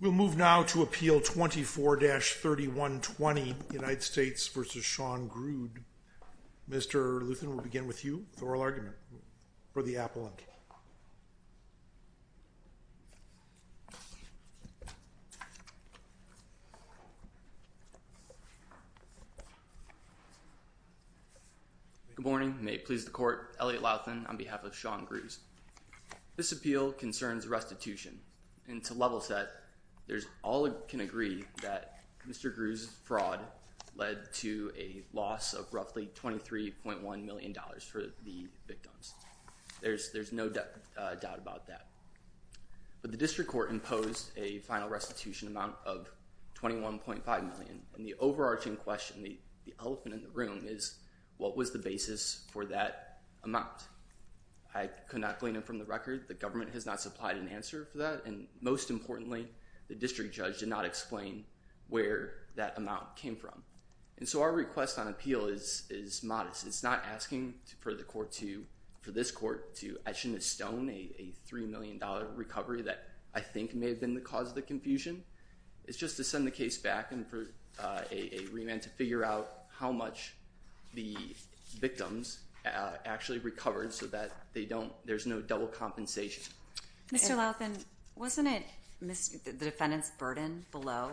We'll move now to appeal 24-3120 United States v. Sean Grusd. Mr. Luthan, we'll begin with you with oral argument for the appellant. Good morning. May it please the court, Elliot Luthan on behalf of Sean Grusd. This appeal concerns restitution, and to level set, all can agree that Mr. Grusd's fraud led to a loss of roughly $23.1 million for the victims. There's no doubt about that. But the district court imposed a final restitution amount of $21.5 million, and the overarching question, the elephant in the room, is what was the basis for that amount? I could not glean it from the record. The government has not supplied an answer for that, and most importantly, the district judge did not explain where that amount came from. And so our request on appeal is modest. It's not asking for this court to etch in a stone a $3 million recovery that I think may have been the cause of the confusion. It's just to send the case back and for a remand to figure out how much the victims actually recovered so that there's no double compensation. Mr. Luthan, wasn't it the defendant's burden below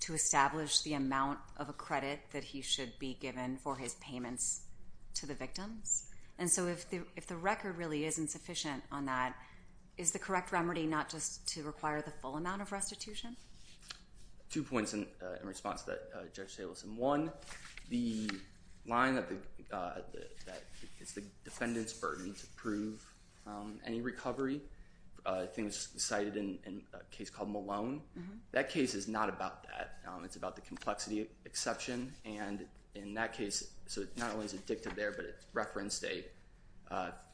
to establish the amount of a credit that he should be given for his payments to the victims? And so if the record really isn't sufficient on that, is the correct remedy not just to require the full amount of restitution? Two points in response to that, Judge Stables. One, the line that it's the defendant's burden to prove any recovery, I think was cited in a case called Malone. That case is not about that. It's about the complexity exception. And in that case, not only is it dictated there, but it's referenced a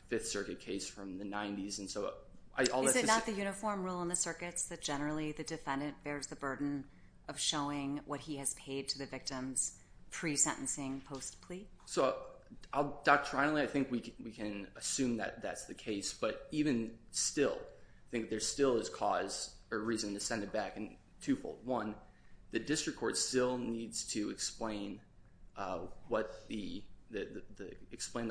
Fifth Circuit case from the 90s. Is it not the uniform rule in the circuits that generally the defendant bears the burden of showing what he has paid to the victims pre-sentencing, post-plea? So doctrinally, I think we can assume that that's the case. But even still, I think there still is cause or reason to send it back in two-fold. One, the district court still needs to explain the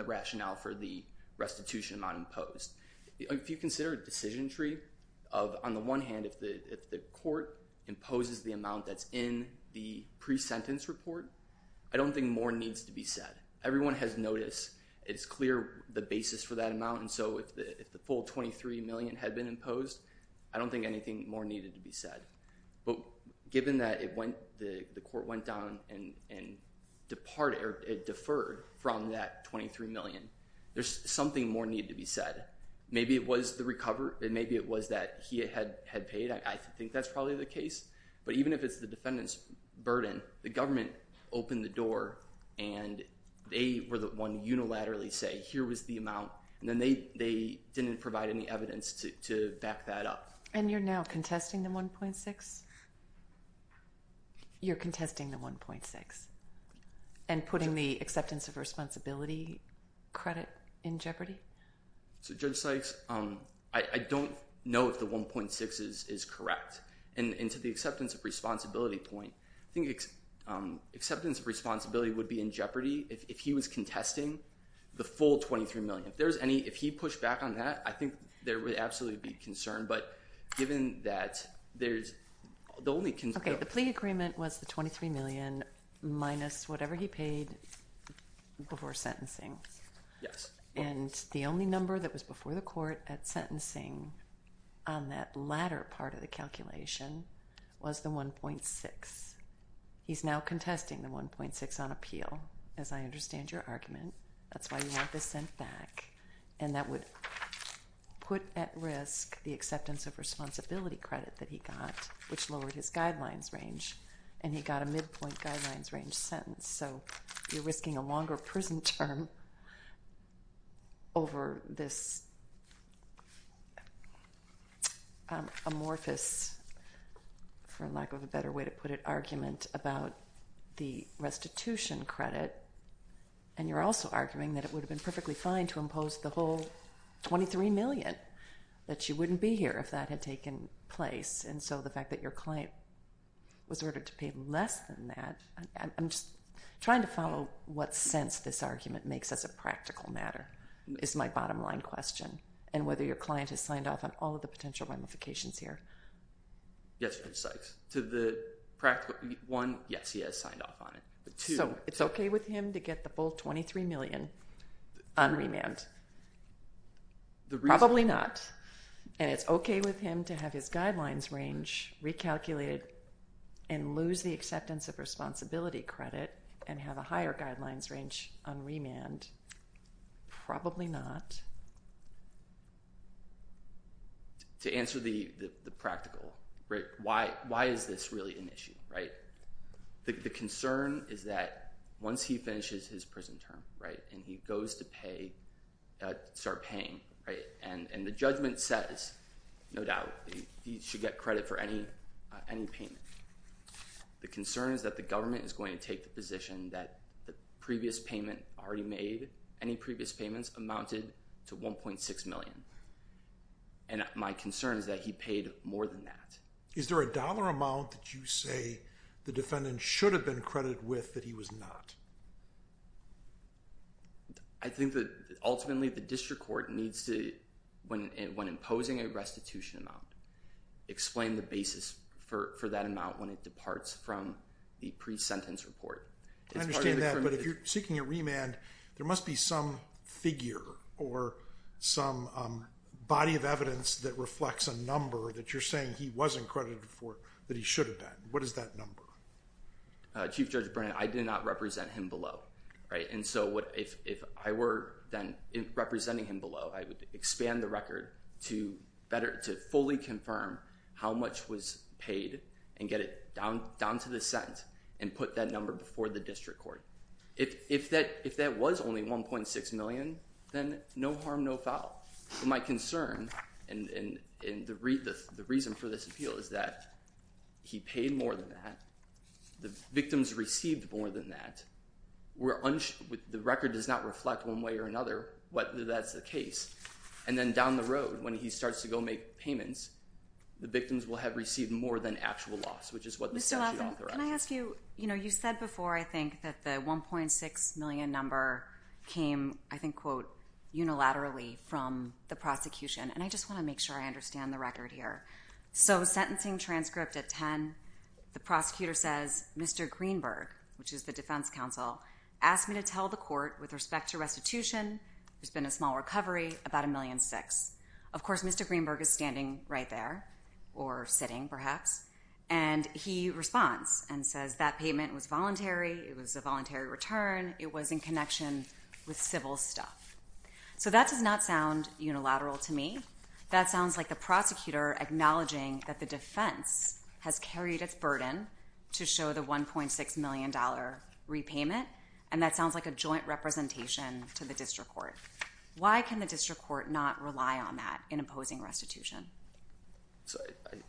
rationale for the restitution amount imposed. If you consider a decision tree, on the one hand, if the court imposes the amount that's in the pre-sentence report, I don't think more needs to be said. Everyone has noticed. It's clear the basis for that amount. And so if the full $23 million had been imposed, I don't think anything more needed to be said. But given that the court went down and deferred from that $23 million, there's something more needed to be said. Maybe it was the recover, and maybe it was that he had paid. I think that's probably the case. But even if it's the defendant's burden, the government opened the door, and they were the one to unilaterally say, here was the amount. And then they didn't provide any evidence to back that up. And you're now contesting the $1.6 million? You're contesting the $1.6 million and putting the acceptance of responsibility credit in jeopardy? So Judge Sykes, I don't know if the $1.6 million is correct. And to the acceptance of responsibility point, I think acceptance of responsibility would be in jeopardy if he was contesting the full $23 million. If there's any – if he pushed back on that, I think there would absolutely be concern. But given that, there's – the only – Okay. The plea agreement was the $23 million minus whatever he paid before sentencing. Yes. And the only number that was before the court at sentencing on that latter part of the calculation was the $1.6. He's now contesting the $1.6 on appeal, as I understand your argument. That's why you want this sent back. And that would put at risk the acceptance of responsibility credit that he got, which lowered his guidelines range. And he got a midpoint guidelines range sentence. So you're risking a longer prison term over this amorphous, for lack of a better way to put it, argument about the restitution credit. And you're also arguing that it would have been perfectly fine to impose the whole $23 million, that you wouldn't be here if that had taken place. And so the fact that your client was ordered to pay less than that – I'm just trying to follow what sense this argument makes as a practical matter is my bottom line question, and whether your client has signed off on all of the potential ramifications here. Yes, Judge Sykes. To the practical – one, yes, he has signed off on it. So it's okay with him to get the full $23 million on remand? Probably not. And it's okay with him to have his guidelines range recalculated and lose the acceptance of responsibility credit and have a higher guidelines range on remand? Probably not. To answer the practical, why is this really an issue? The concern is that once he finishes his prison term and he goes to pay – start paying, and the judgment says, no doubt, he should get credit for any payment. The concern is that the government is going to take the position that the previous payment already made – any previous payments amounted to $1.6 million. And my concern is that he paid more than that. Is there a dollar amount that you say the defendant should have been credited with that he was not? I think that ultimately the district court needs to, when imposing a restitution amount, explain the basis for that amount when it departs from the pre-sentence report. I understand that, but if you're seeking a remand, there must be some figure or some body of evidence that reflects a number that you're saying he wasn't credited for that he should have been. What is that number? Chief Judge Brennan, I did not represent him below. And so if I were then representing him below, I would expand the record to fully confirm how much was paid and get it down to the sentence and put that number before the district court. If that was only $1.6 million, then no harm, no foul. My concern and the reason for this appeal is that he paid more than that. The victims received more than that. The record does not reflect one way or another whether that's the case. And then down the road, when he starts to go make payments, the victims will have received more than actual loss, which is what the statute authorizes. Can I ask you, you said before, I think, that the $1.6 million number came, I think, quote, unilaterally from the prosecution. And I just want to make sure I understand the record here. So sentencing transcript at 10, the prosecutor says, Mr. Greenberg, which is the defense counsel, asked me to tell the court with respect to restitution, there's been a small recovery, about $1.6 million. Of course, Mr. Greenberg is standing right there, or sitting perhaps, and he responds and says that payment was voluntary, it was a voluntary return, it was in connection with civil stuff. So that does not sound unilateral to me. That sounds like the prosecutor acknowledging that the defense has carried its burden to show the $1.6 million repayment, and that sounds like a joint representation to the district court. Why can the district court not rely on that in opposing restitution?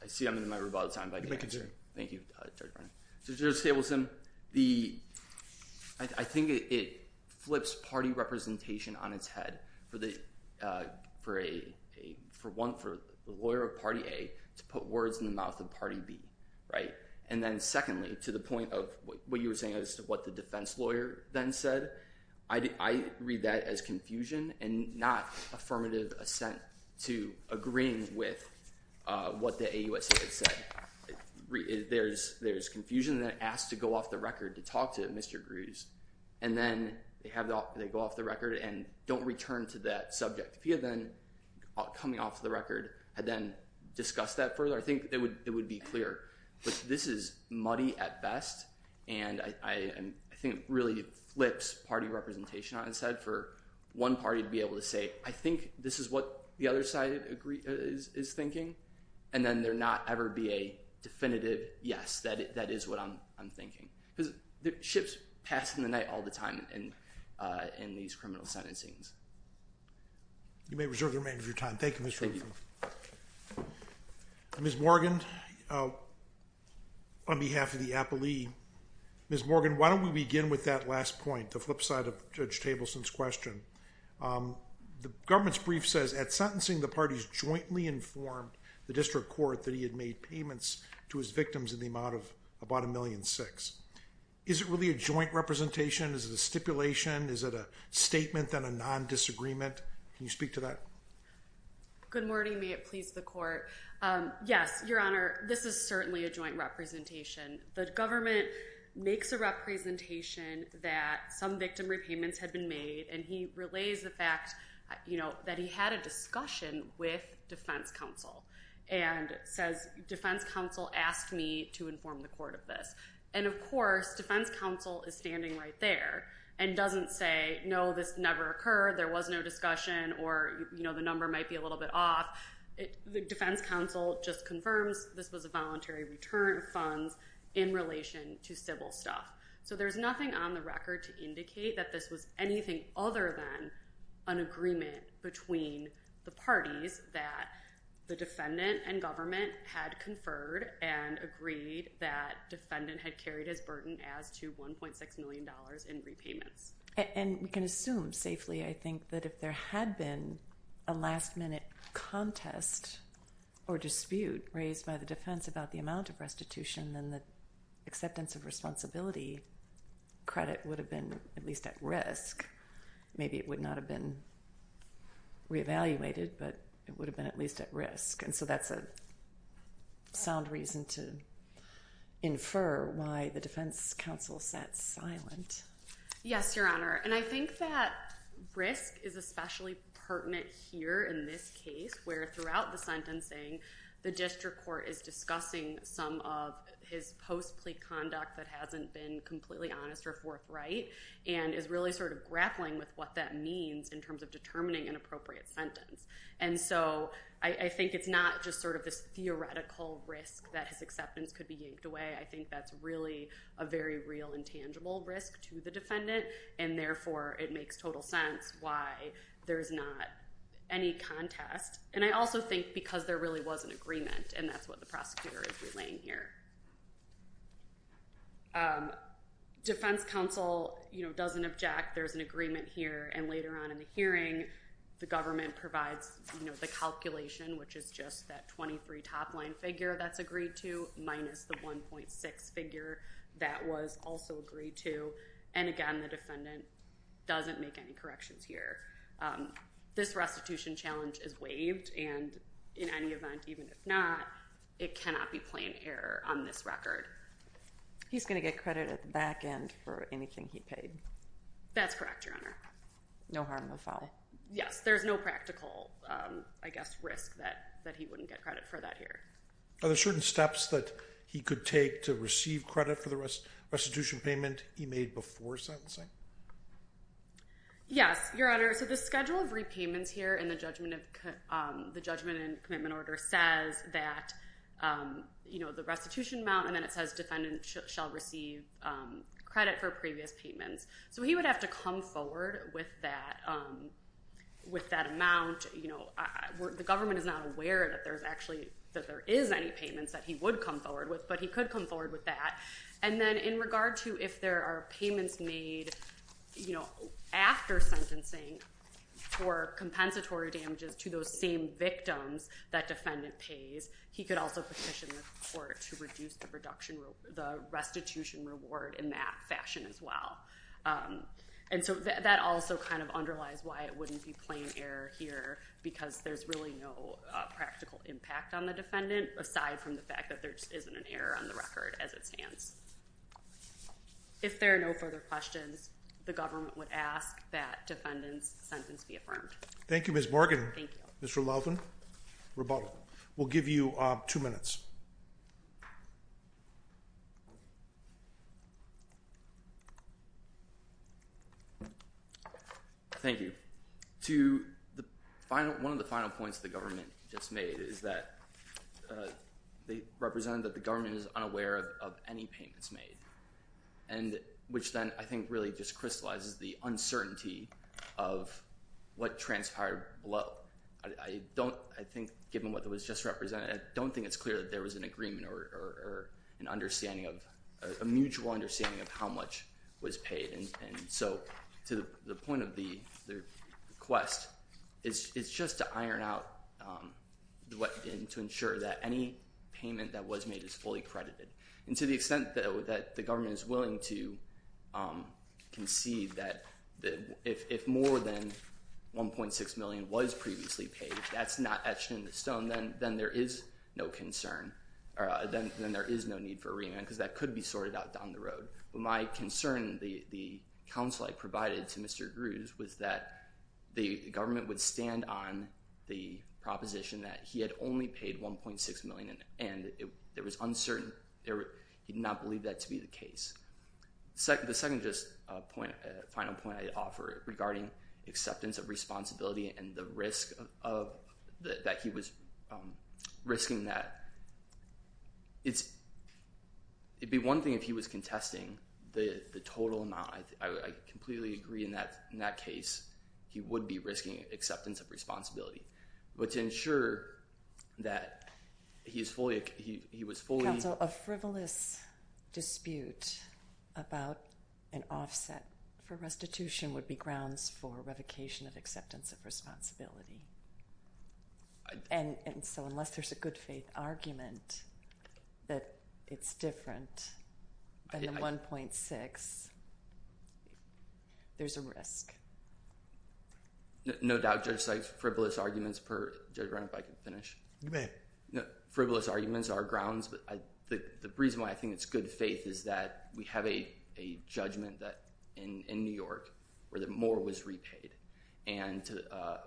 I see I'm in my rebuttal time. You may continue. Thank you, Judge Brown. So Judge Stabelsen, I think it flips party representation on its head for the lawyer of party A to put words in the mouth of party B. And then secondly, to the point of what you were saying as to what the defense lawyer then said, I read that as confusion and not affirmative assent to agreeing with what the AUSA had said. There's confusion, and then it asks to go off the record to talk to Mr. Greaves, and then they go off the record and don't return to that subject. If he had then, coming off the record, had then discussed that further, I think it would be clear. But this is muddy at best, and I think it really flips party representation on its head for one party to be able to say, I think this is what the other side is thinking, and then there not ever be a definitive yes, that is what I'm thinking. Because ships pass in the night all the time in these criminal sentencings. You may reserve the remainder of your time. Thank you, Mr. Wilson. Ms. Morgan, on behalf of the appellee, Ms. Morgan, why don't we begin with that last point, the flip side of Judge Stabelsen's question. The government's brief says, at sentencing, the parties jointly informed the district court that he had made payments to his victims in the amount of about $1.6 million. Is it really a joint representation? Is it a stipulation? Is it a statement, then a non-disagreement? Can you speak to that? Good morning. May it please the court. Yes, Your Honor, this is certainly a joint representation. The government makes a representation that some victim repayments had been made, and he relays the fact that he had a discussion with defense counsel and says, defense counsel asked me to inform the court of this. And, of course, defense counsel is standing right there and doesn't say, no, this never occurred, there was no discussion, or the number might be a little bit off. Defense counsel just confirms this was a voluntary return of funds in relation to civil stuff. So there's nothing on the record to indicate that this was anything other than an agreement between the parties that the defendant and government had conferred and agreed that defendant had carried his burden as to $1.6 million in repayments. And we can assume safely, I think, that if there had been a last-minute contest or dispute raised by the defense about the amount of restitution, then the acceptance of responsibility credit would have been at least at risk. Maybe it would not have been reevaluated, but it would have been at least at risk. And so that's a sound reason to infer why the defense counsel sat silent. Yes, Your Honor. And I think that risk is especially pertinent here in this case, where throughout the sentencing, the district court is discussing some of his post-plea conduct that hasn't been completely honest or forthright and is really grappling with what that means in terms of determining an appropriate sentence. And so I think it's not just this theoretical risk that his acceptance could be yanked away. I think that's really a very real and tangible risk to the defendant. And therefore, it makes total sense why there's not any contest. And I also think because there really was an agreement, and that's what the prosecutor is relaying here. Defense counsel doesn't object. There's an agreement here. And later on in the hearing, the government provides the calculation, which is just that 23 top-line figure that's agreed to minus the 1.6 figure that was also agreed to. And again, the defendant doesn't make any corrections here. This restitution challenge is waived, and in any event, even if not, it cannot be plain error on this record. He's going to get credit at the back end for anything he paid. That's correct, Your Honor. No harm will fall. Yes, there's no practical, I guess, risk that he wouldn't get credit for that here. Are there certain steps that he could take to receive credit for the restitution payment he made before sentencing? Yes, Your Honor. So the schedule of repayments here in the judgment and commitment order says that the restitution amount, and then it says defendant shall receive credit for previous payments. So he would have to come forward with that amount. The government is not aware that there is any payments that he would come forward with, but he could come forward with that. And then in regard to if there are payments made after sentencing for compensatory damages to those same victims that defendant pays, he could also petition the court to reduce the restitution reward in that fashion as well. And so that also kind of underlies why it wouldn't be plain error here, because there's really no practical impact on the defendant, aside from the fact that there just isn't an error on the record as it stands. If there are no further questions, the government would ask that defendant's sentence be affirmed. Thank you, Ms. Morgan. Thank you. Mr. Lovin, rebuttal. We'll give you two minutes. Thank you. One of the final points the government just made is that they represent that the government is unaware of any payments made, which then I think really just crystallizes the uncertainty of what transpired below. I think given what was just represented, I don't think it's clear that there was an agreement or a mutual understanding of how much was paid. And so to the point of the request, it's just to iron out and to ensure that any payment that was made is fully credited. And to the extent that the government is willing to concede that if more than $1.6 million was previously paid, that's not etched in the stone, then there is no concern, then there is no need for a remand, because that could be sorted out down the road. But my concern, the counsel I provided to Mr. Grews, was that the government would stand on the proposition that he had only paid $1.6 million and he did not believe that to be the case. The second final point I offer regarding acceptance of responsibility and the risk that he was risking that, it'd be one thing if he was contesting the total amount. I completely agree in that case, he would be risking acceptance of responsibility. But to ensure that he was fully... Counsel, a frivolous dispute about an offset for restitution would be grounds for revocation of acceptance of responsibility. And so unless there's a good faith argument that it's different than the $1.6, there's a risk. No doubt, Judge Sykes, frivolous arguments are grounds. But the reason why I think it's good faith is that we have a judgment in New York where more was repaid. And to a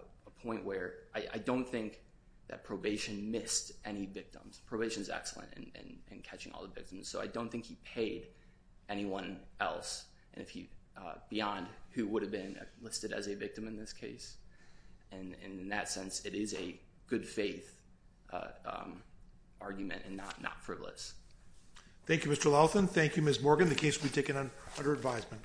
point where I don't think that probation missed any victims. Probation is excellent in catching all the victims. So I don't think he paid anyone else beyond who would have been listed as a victim in this case. And in that sense, it is a good faith argument and not frivolous. Thank you, Mr. Lawson. Thank you, Ms. Morgan. The case will be taken under advisement.